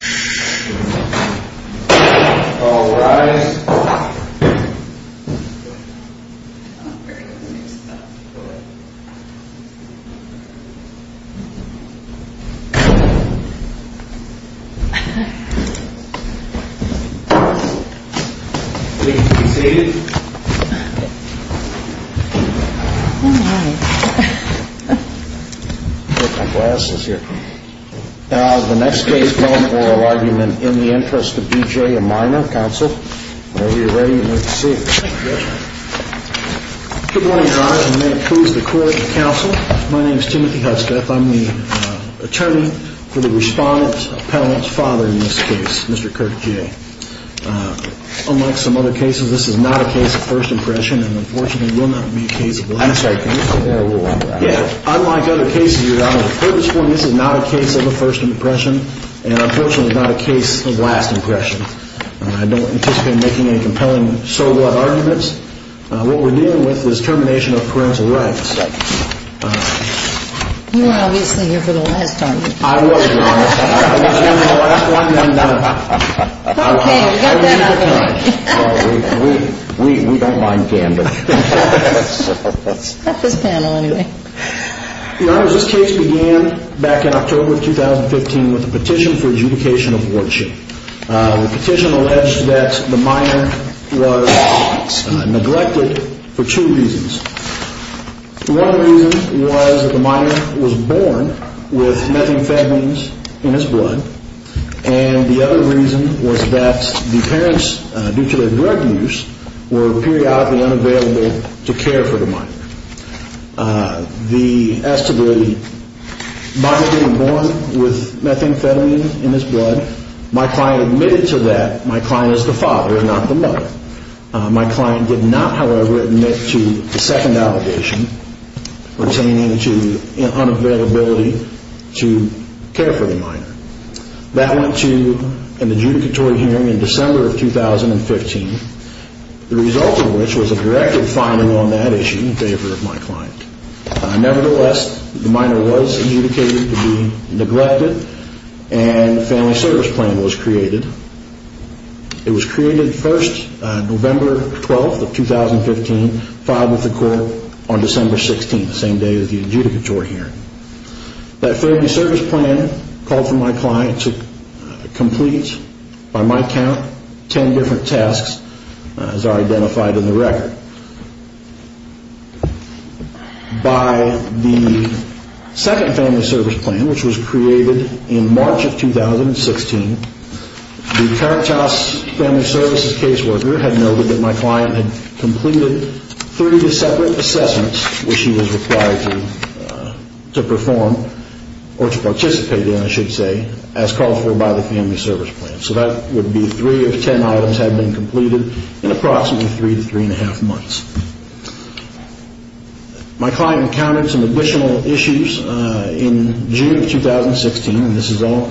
B.J. Huffsteth, Attorney for the Respondent's Appellant's Father in this case, Mr. Kirk Jay. Unlike some other cases, this is not a case of first impression and unfortunately will not be a case of last impression. I'm sorry, can you say that a little louder? Yeah. Unlike other cases you've heard this one, this is not a case of a first impression and unfortunately not a case of last impression. I don't anticipate making any compelling so-what arguments. What we're dealing with is termination of parental rights. You were obviously here for the last argument. I was, Your Honor. I was here for the last one and I'm done. Okay, we got that out of the way. We don't mind gambling. Not this panel, anyway. Yeah. Unlike other cases you've heard this one, this is not a case of a first impression. My client admitted to that my client is the father, not the mother. My client did not, however, admit to the second allegation pertaining to unavailability to care for the minor. That went to an adjudicatory hearing in December of 2015, the result of which was a directed finding on that issue in favor of my client. Nevertheless, the minor was adjudicated to be neglected and a family service plan was created. It was created first, November 12th of 2015, filed with the court on December 16th, the same day of the adjudicatory hearing. That family service plan called for my client to complete, by my count, ten different tasks as are identified in the record. By the second family service plan, which was created in March of 2016, the Caritas Family Services caseworker had noted that my client had completed three separate assessments which he was required to perform, or to participate in, I should say, as called for by the family service plan. So that would be three of ten items had been completed in approximately three to three and a half months. My client encountered some additional issues in June of 2016, and this is all...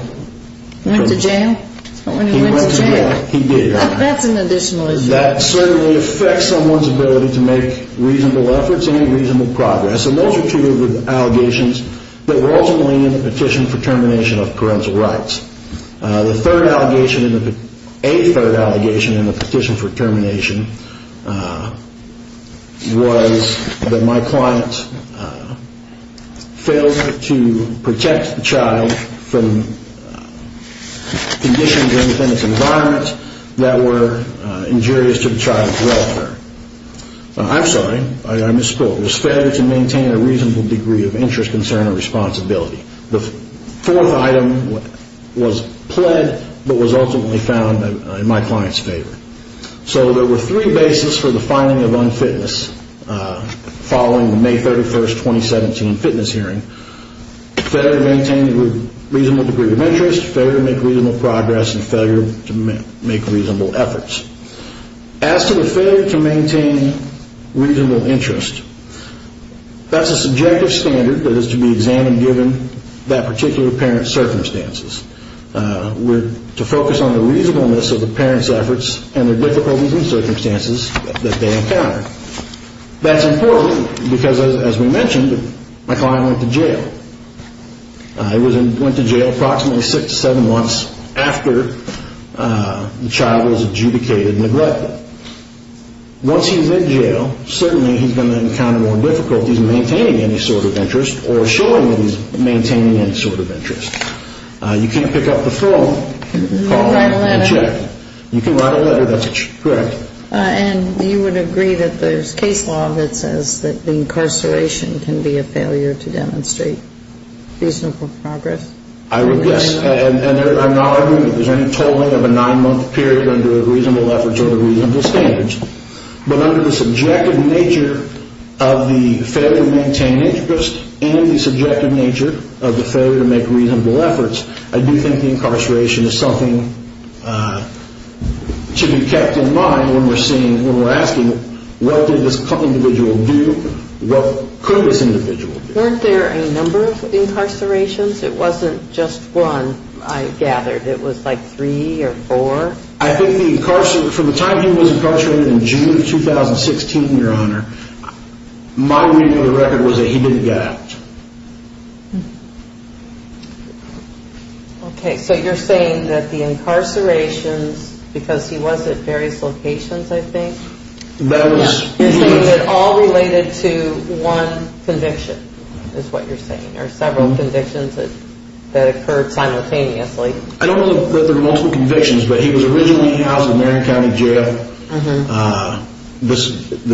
Went to jail? He went to jail. He did. That's an additional issue. That certainly affects someone's ability to make reasonable efforts and reasonable progress. And those are two of the allegations that were ultimately in the petition for termination of parental rights. The third allegation in the... A third allegation in the petition for termination was that my client failed to protect the child from conditions within its environment that were injurious to the child's welfare. I'm sorry, I misspoke. Failed to maintain a reasonable degree of interest, concern, or responsibility. The fourth item was pled, but was ultimately found in my client's favor. So there were three bases for the finding of unfitness following the May 31st, 2017, fitness hearing. Failure to maintain a reasonable degree of interest, failure to make reasonable progress, and failure to make reasonable efforts. As to the failure to maintain reasonable interest, that's a subjective standard that is to be examined given that particular parent's circumstances. We're to focus on the reasonableness of the parent's efforts and the difficulties and circumstances that they encounter. That's important because, as we mentioned, my client went to jail. He went to jail approximately six to seven months after the child was adjudicated and neglected. Once he's in jail, certainly he's going to encounter more difficulties in maintaining any sort of interest or showing that he's maintaining any sort of interest. You can't pick up the phone, call, and check. You can write a letter. You can write a letter. That's correct. And you would agree that there's case law that says that the incarceration can be a failure to demonstrate reasonable progress? I would, yes. And I'm not arguing that there's any tolling of a nine-month period under reasonable efforts standards. But under the subjective nature of the failure to maintain interest and the subjective nature of the failure to make reasonable efforts, I do think the incarceration is something to be kept in mind when we're asking, what did this individual do? What could this individual do? Weren't there a number of incarcerations? It wasn't just one, I gathered. It was like three or four? I think the incarceration, from the time he was incarcerated in June of 2016, Your Honor, my reading of the record was that he didn't get out. Okay, so you're saying that the incarcerations, because he was at various locations, I think? That was... You're saying that all related to one conviction, is what you're saying, or several convictions that occurred simultaneously? I don't know that there are multiple convictions, but he was originally housed in Marion County Jail. The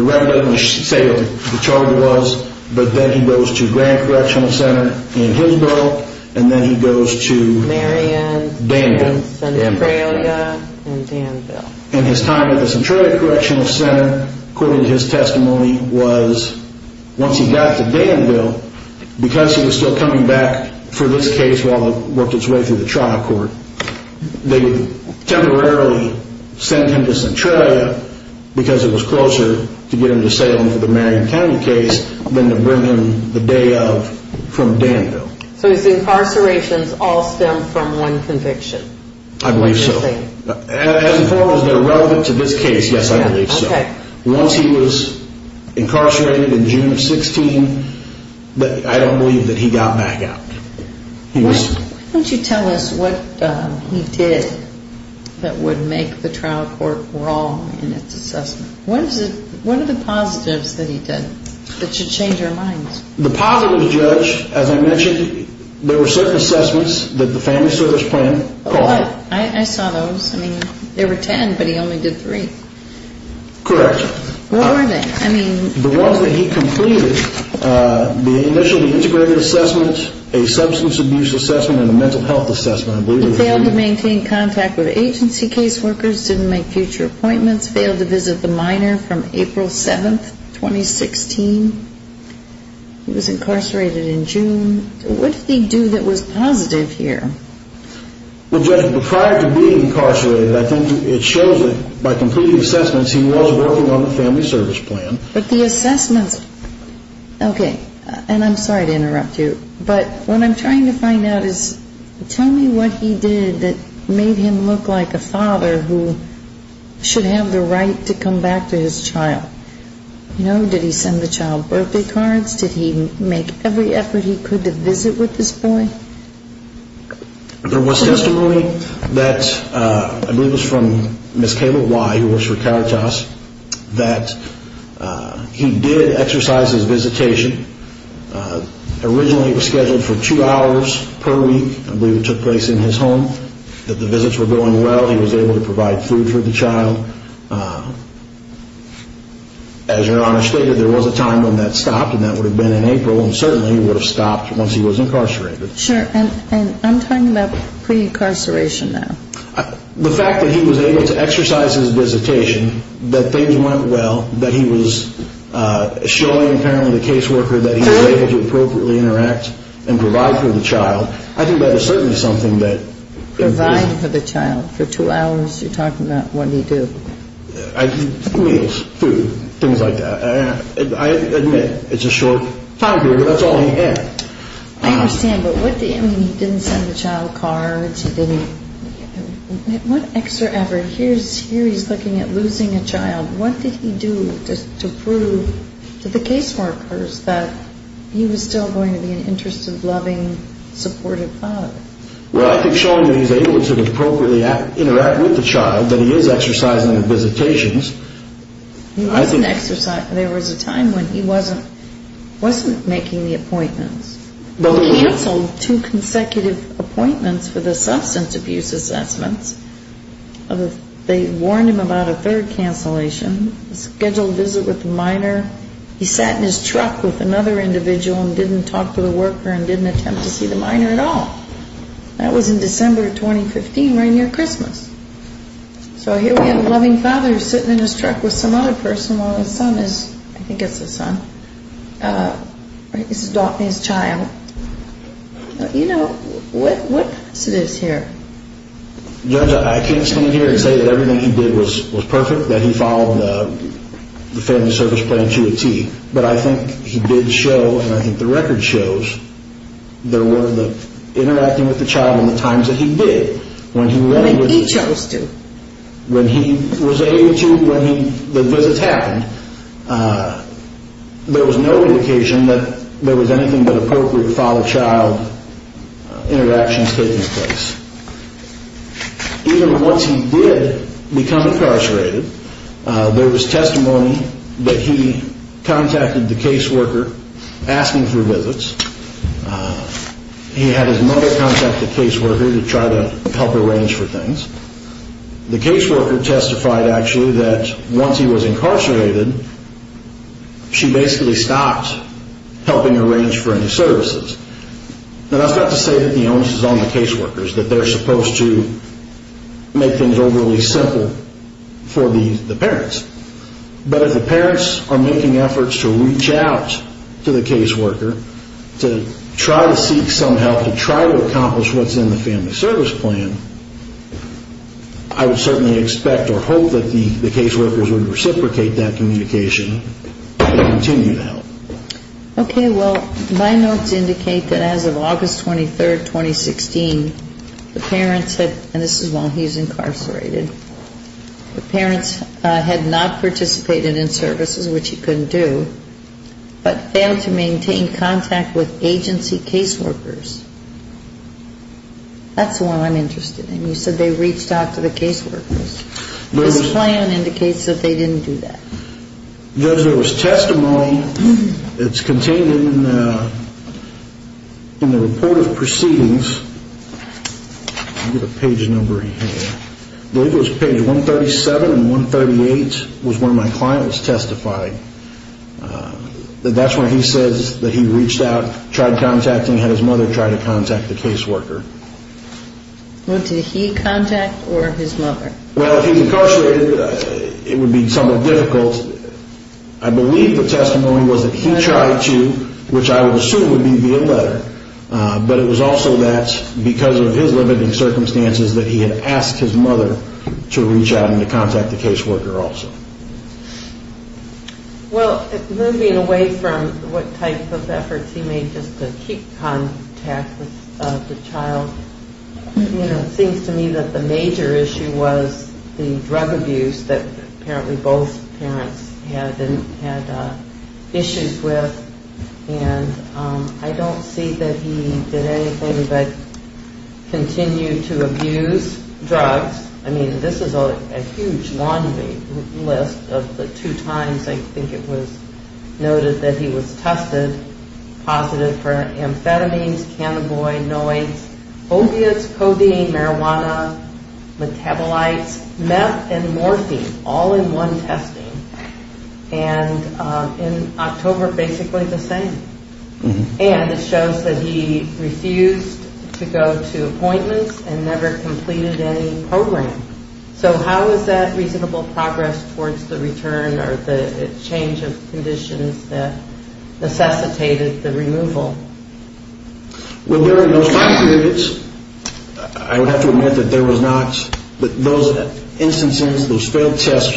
record doesn't say what the charge was, but then he goes to Grand Correctional Center in Hillsborough, and then he goes to... Marion. Danville. And Centralia, and Danville. And his time at the Centralia Correctional Center, according to his testimony, was once he got to Danville, because he was still coming back for this case while it worked its way through the trial court. They temporarily sent him to Centralia because it was closer to get him to Salem for the Marion County case than to bring him the day of from Danville. So his incarcerations all stem from one conviction? I believe so. As far as they're relevant to this case, yes, I believe so. Once he was incarcerated in June of 16, I don't believe that he got back out. Why don't you tell us what he did that would make the trial court wrong in its assessment? What are the positives that he did that should change our minds? The positives, Judge, as I mentioned, there were certain assessments that the family service plan called. I saw those. I mean, there were ten, but he only did three. Correct. What were they? The ones that he completed, the initial integrated assessments, a substance abuse assessment, and a mental health assessment, I believe. He failed to maintain contact with agency case workers, didn't make future appointments, failed to visit the minor from April 7, 2016. He was incarcerated in June. What did he do that was positive here? Well, Judge, prior to being incarcerated, I think it shows that by completing assessments, he was working on the family service plan. But the assessments, okay, and I'm sorry to interrupt you, but what I'm trying to find out is tell me what he did that made him look like a father who should have the right to come back to his child. Did he send the child birthday cards? Did he make every effort he could to visit with this boy? There was testimony that, I believe it was from Ms. Kayla Y., who works for Caritas, that he did exercise his visitation. Originally, it was scheduled for two hours per week. I believe it took place in his home. The visits were going well. He was able to provide food for the child. As Your Honor stated, there was a time when that stopped, and that would have been in I'm talking about pre-incarceration now. The fact that he was able to exercise his visitation, that things went well, that he was showing apparently the caseworker that he was able to appropriately interact and provide for the child, I think that is certainly something that... Provide for the child. For two hours, you're talking about what did he do? Meals, food, things like that. I admit it's a short time period, but that's all he had. I understand, but what did he... I mean, he didn't send the child cards, he didn't... What extra effort? Here he's looking at losing a child. What did he do to prove to the caseworkers that he was still going to be an interested, loving, supportive father? Well, I think showing that he was able to appropriately interact with the child, that he is exercising the visitations, I think... There was a time when he wasn't making the appointments. They canceled two consecutive appointments for the substance abuse assessments. They warned him about a third cancellation, a scheduled visit with a minor. He sat in his truck with another individual and didn't talk to the worker and didn't attempt to see the minor at all. That was in December of 2015, right near Christmas. So here we have a loving father sitting in his truck with some other person while his son is... I think it's his son. He's adopting his child. You know, what happens to this here? Judge, I can't stand here and say that everything he did was perfect, that he followed the family service plan to a T, but I think he did show, and I think the record shows, that interacting with the child in the times that he did, when he was... When he chose to. When he was able to, when the visits happened, there was no indication that there was anything but appropriate father-child interactions taking place. Even once he did become incarcerated, there was testimony that he contacted the caseworker asking for visits. He had his mother contact the caseworker to try to help arrange for things. The caseworker testified, actually, that once he was incarcerated, she basically stopped helping arrange for any services. Now, that's not to say that the onus is on the caseworkers, that they're supposed to make things overly simple for the parents. But if the parents are making efforts to reach out to the caseworker to try to seek some help, to try to accomplish what's in the family service plan, I would certainly expect or hope that the caseworkers would reciprocate that communication and continue to help. Okay, well, my notes indicate that as of August 23, 2016, the parents had... And this is while he's incarcerated. The parents had not participated in services, which he couldn't do, but failed to maintain contact with agency caseworkers. That's the one I'm interested in. You said they reached out to the caseworkers. This plan indicates that they didn't do that. Judge, there was testimony that's contained in the report of proceedings. Look at the page number he had. I believe it was page 137 and 138 was where my client was testifying. That's where he says that he reached out, tried contacting, had his mother try to contact the caseworker. What did he contact or his mother? Well, if he's incarcerated, it would be somewhat difficult. I believe the testimony was that he tried to, which I would assume would be via letter, but it was also that because of his limited circumstances that he had asked his mother to reach out and to contact the caseworker also. Well, moving away from what type of efforts he made just to keep contact with the child, you know, it seems to me that the major issue was the drug abuse that apparently both parents had issues with. And I don't see that he did anything but continue to abuse drugs. I mean, this is a huge long list of the two times I think it was noted that he was tested positive for amphetamines, cannabinoids, opiates, codeine, marijuana, metabolites, meth, and morphine, all in one testing. And in October, basically the same. And it shows that he refused to go to appointments and never completed any program. So how is that reasonable progress towards the return or the change of conditions that necessitated the removal? Well, during those time periods, I would have to admit that there was not, but those instances, those failed tests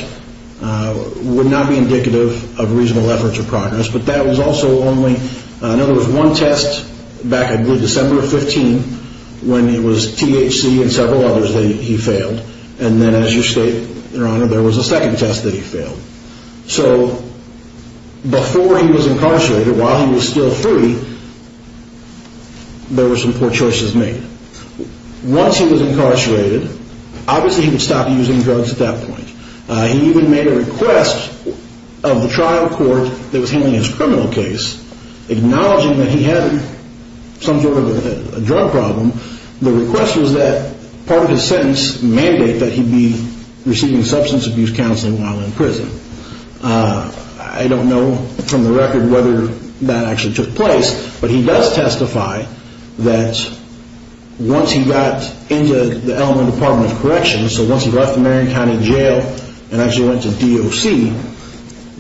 would not be indicative of reasonable efforts or progress. But that was also only, in other words, one test back in December of 15 when it was THC and several others that he failed. And then as you state, Your Honor, there was a second test that he failed. So before he was incarcerated, while he was still free, there were some poor choices made. Once he was incarcerated, obviously he would stop using drugs at that point. He even made a request of the trial court that was handling his criminal case, acknowledging that he had some sort of a drug problem. The request was that part of his sentence mandate that he be receiving substance abuse counseling while in prison. I don't know from the record whether that actually took place, but he does testify that once he got into the Eleanor Department of Corrections, so once he left the Marion County Jail and actually went to DOC,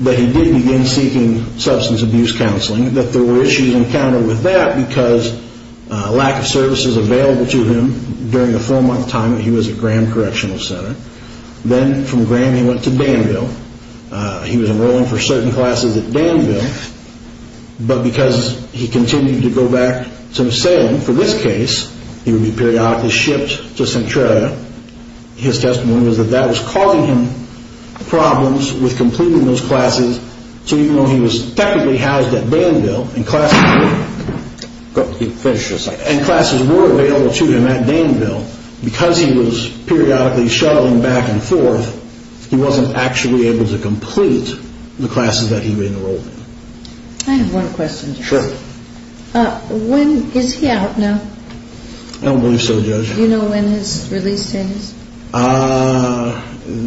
that he did begin seeking substance abuse counseling, that there were issues encountered with that because lack of services available to him during the four-month time that he was at Graham Correctional Center. Then from Graham he went to Danville. He was enrolling for certain classes at Danville, but because he continued to go back to Sam, for this case, he would be periodically shipped to Centralia. His testimony was that that was causing him problems with completing those classes, so even though he was technically housed at Danville and classes were available to him at Danville, because he was periodically shuttling back and forth, he wasn't actually able to complete the classes that he had enrolled in. I have one question. Sure. Is he out now? I don't believe so, Judge. Do you know when his release date is?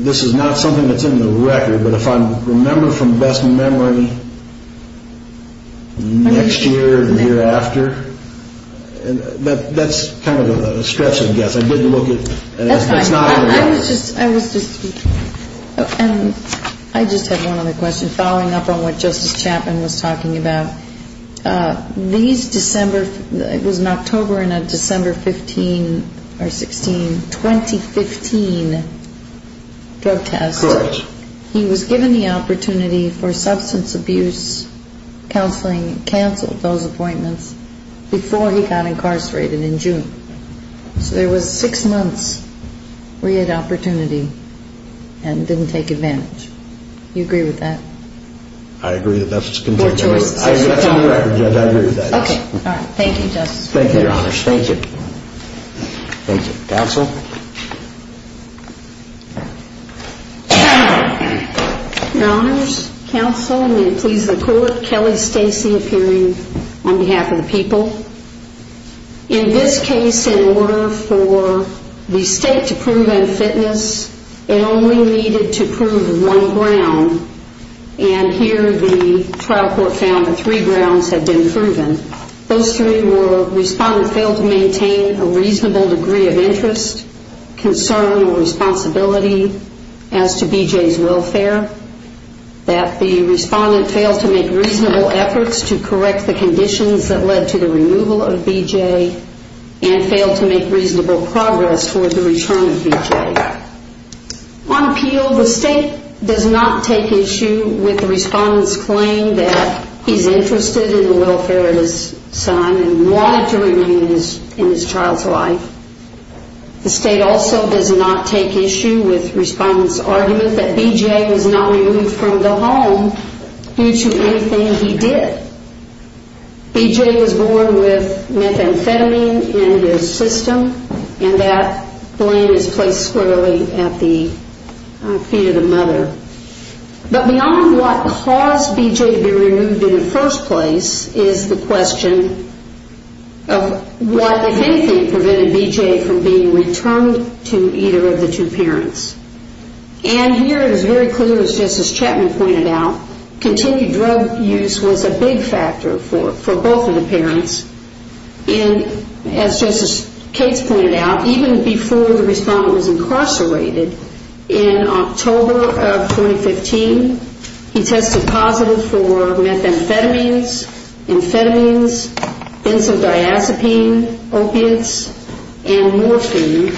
This is not something that's in the record, but if I remember from best memory, next year, the year after, that's kind of a stretch, I guess. That's fine. I was just speaking. And I just have one other question, following up on what Justice Chapman was talking about. These December, it was in October, in a December 15 or 16, 2015 drug test. Correct. He was given the opportunity for substance abuse counseling, canceled those appointments, before he got incarcerated in June. So there was six months where he had opportunity and didn't take advantage. Do you agree with that? I agree that that's in the record, Judge. I agree with that. Okay. All right. Thank you, Justice. Thank you, Your Honors. Thank you. Thank you. Counsel? Your Honors, Counsel, and may it please the Court, Kelly Stacey appearing on behalf of the people. In this case, in order for the state to prove unfitness, it only needed to prove one ground, and here the trial court found that three grounds had been proven. Those three were respondent failed to maintain a reasonable degree of interest, concern, or responsibility as to BJ's welfare, that the respondent failed to make reasonable efforts to correct the conditions that led to the removal of BJ and failed to make reasonable progress toward the return of BJ. On appeal, the state does not take issue with the respondent's claim that he's interested in the welfare of his son and wanted to remain in his child's life. The state also does not take issue with the respondent's argument that BJ was not removed from the home due to anything he did. BJ was born with methamphetamine in his system, and that blame is placed squarely at the feet of the mother. But beyond what caused BJ to be removed in the first place is the question of what, if anything, prevented BJ from being returned to either of the two parents. And here it is very clear, just as Chapman pointed out, continued drug use was a big factor for both of the parents. And as Justice Cates pointed out, even before the respondent was incarcerated in October of 2015, he tested positive for methamphetamines, amphetamines, benzodiazepine, opiates, and morphine.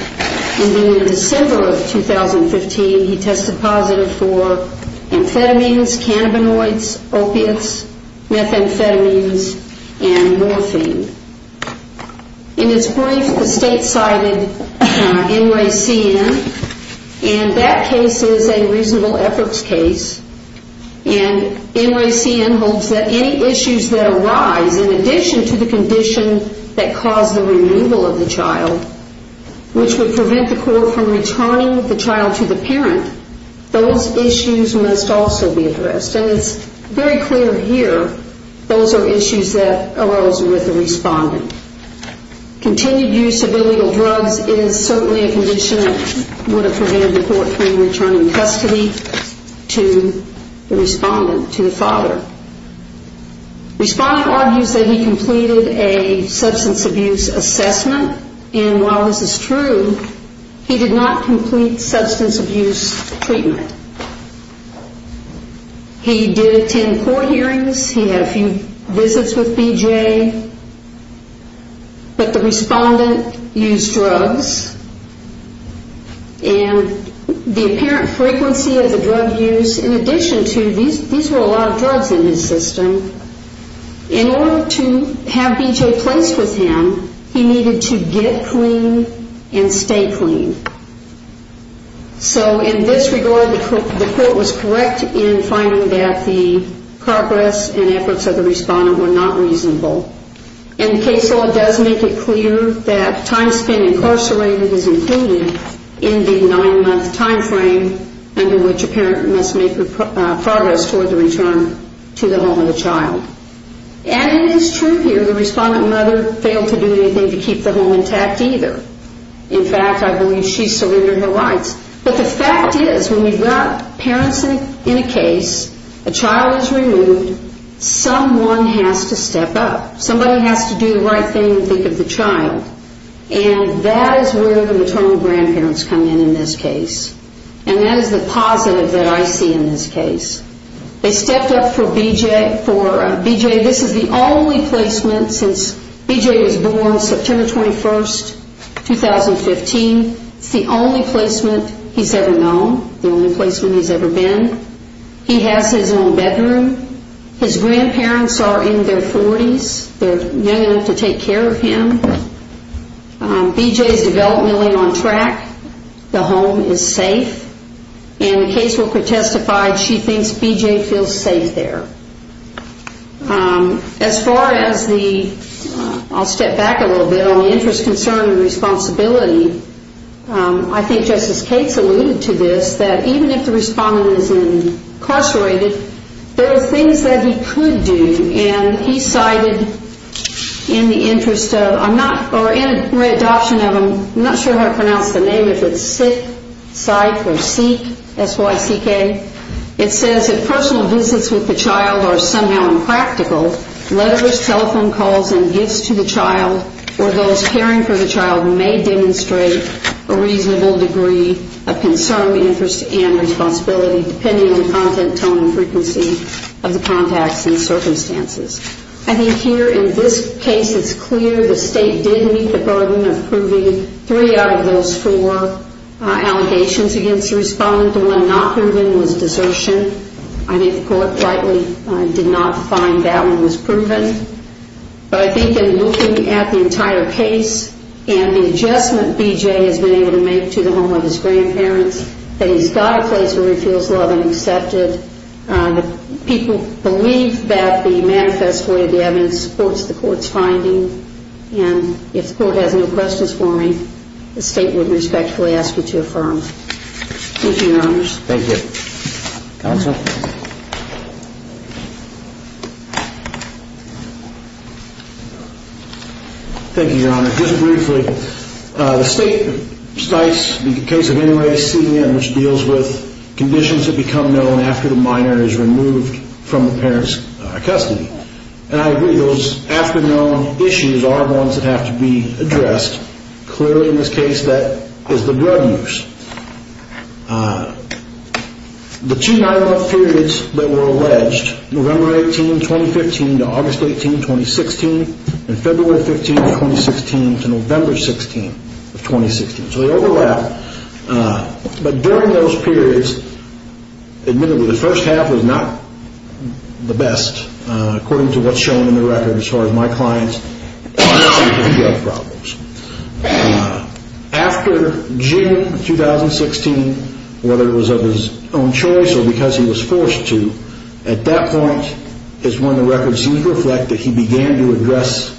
And in December of 2015, he tested positive for amphetamines, cannabinoids, opiates, methamphetamines, and morphine. In his brief, the state cited NRACN, and that case is a reasonable efforts case. And NRACN holds that any issues that arise, in addition to the condition that caused the removal of the child, which would prevent the court from returning the child to the parent, those issues must also be addressed. And it's very clear here those are issues that arose with the respondent. Continued use of illegal drugs is certainly a condition that would have prevented the court from returning custody to the respondent, to the father. Respondent argues that he completed a substance abuse assessment, and while this is true, he did not complete substance abuse treatment. He did attend court hearings. He had a few visits with BJA. But the respondent used drugs, and the apparent frequency of the drug use, in addition to these were a lot of drugs in his system, in order to have BJA placed with him, he needed to get clean and stay clean. So in this regard, the court was correct in finding that the progress and efforts of the respondent were not reasonable. And the case law does make it clear that time spent incarcerated is included in the nine-month time frame under which a parent must make progress toward the return to the home of the child. And it is true here the respondent mother failed to do anything to keep the home intact either. In fact, I believe she surrendered her rights. But the fact is when you've got parents in a case, a child is removed, someone has to step up. Somebody has to do the right thing, think of the child. And that is where the maternal grandparents come in in this case. And that is the positive that I see in this case. They stepped up for BJA. This is the only placement since BJA was born September 21, 2015. It's the only placement he's ever known, the only placement he's ever been. He has his own bedroom. His grandparents are in their 40s. They're young enough to take care of him. BJA is developmentally on track. The home is safe. And the caseworker testified she thinks BJA feels safe there. As far as the, I'll step back a little bit, on the interest, concern, and responsibility, I think Justice Cates alluded to this, that even if the respondent is incarcerated, there are things that he could do. And he cited in the interest of, or in adoption of, I'm not sure how to pronounce the name, if it's sit, cite, or seek, S-Y-C-K, it says that personal visits with the child are somehow impractical. Letters, telephone calls, and gifts to the child or those caring for the child may demonstrate a reasonable degree of concern, interest, and responsibility depending on the content, tone, and frequency of the contacts and circumstances. I think here in this case it's clear the state did meet the burden of proving three out of those four allegations against the respondent. The one not proven was desertion. I think the court rightly did not find that one was proven. But I think in looking at the entire case and the adjustment BJA has been able to make to the home of his grandparents, that he's got a place where he feels loved and accepted. People believe that the manifest void of the evidence supports the court's finding. And if the court has no questions for me, the state would respectfully ask you to affirm. Thank you, Your Honors. Thank you. Counsel? Thank you, Your Honor. Just briefly, the state cites, in the case of any race, CDM, which deals with conditions that become known after the minor is removed from the parent's custody. And I agree, those after-known issues are the ones that have to be addressed. Clearly in this case that is the drug use. The two nine-month periods that were alleged, November 18, 2015, to August 18, 2016, and February 15, 2016, to November 16, 2016. So they overlap. But during those periods, admittedly, the first half was not the best, according to what's shown in the record as far as my clients, and that's due to drug problems. After June 2016, whether it was of his own choice or because he was forced to, at that point is when the record seems to reflect that he began to address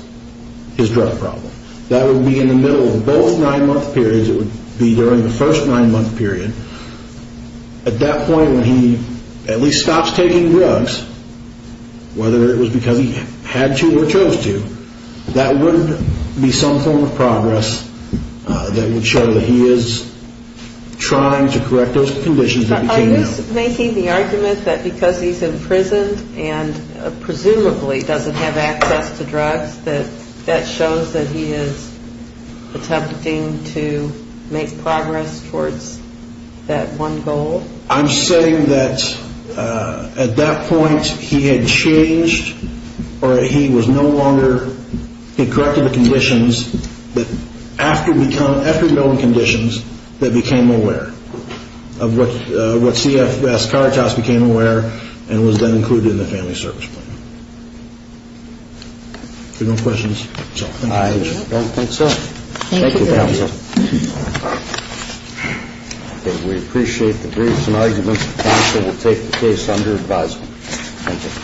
his drug problem. That would be in the middle of both nine-month periods. It would be during the first nine-month period. At that point, when he at least stops taking drugs, whether it was because he had to or chose to, that would be some form of progress that would show that he is trying to correct those conditions. Are you making the argument that because he's imprisoned and presumably doesn't have access to drugs, that that shows that he is attempting to make progress towards that one goal? I'm saying that at that point he had changed, or he was no longer, he corrected the conditions, but after knowing conditions, that became aware of what CFS Caritas became aware of and was then included in the Family Service Plan. If there are no questions, that's all. I don't think so. Thank you, counsel. We appreciate the briefs and arguments. Counsel will take the case under advisement. Thank you.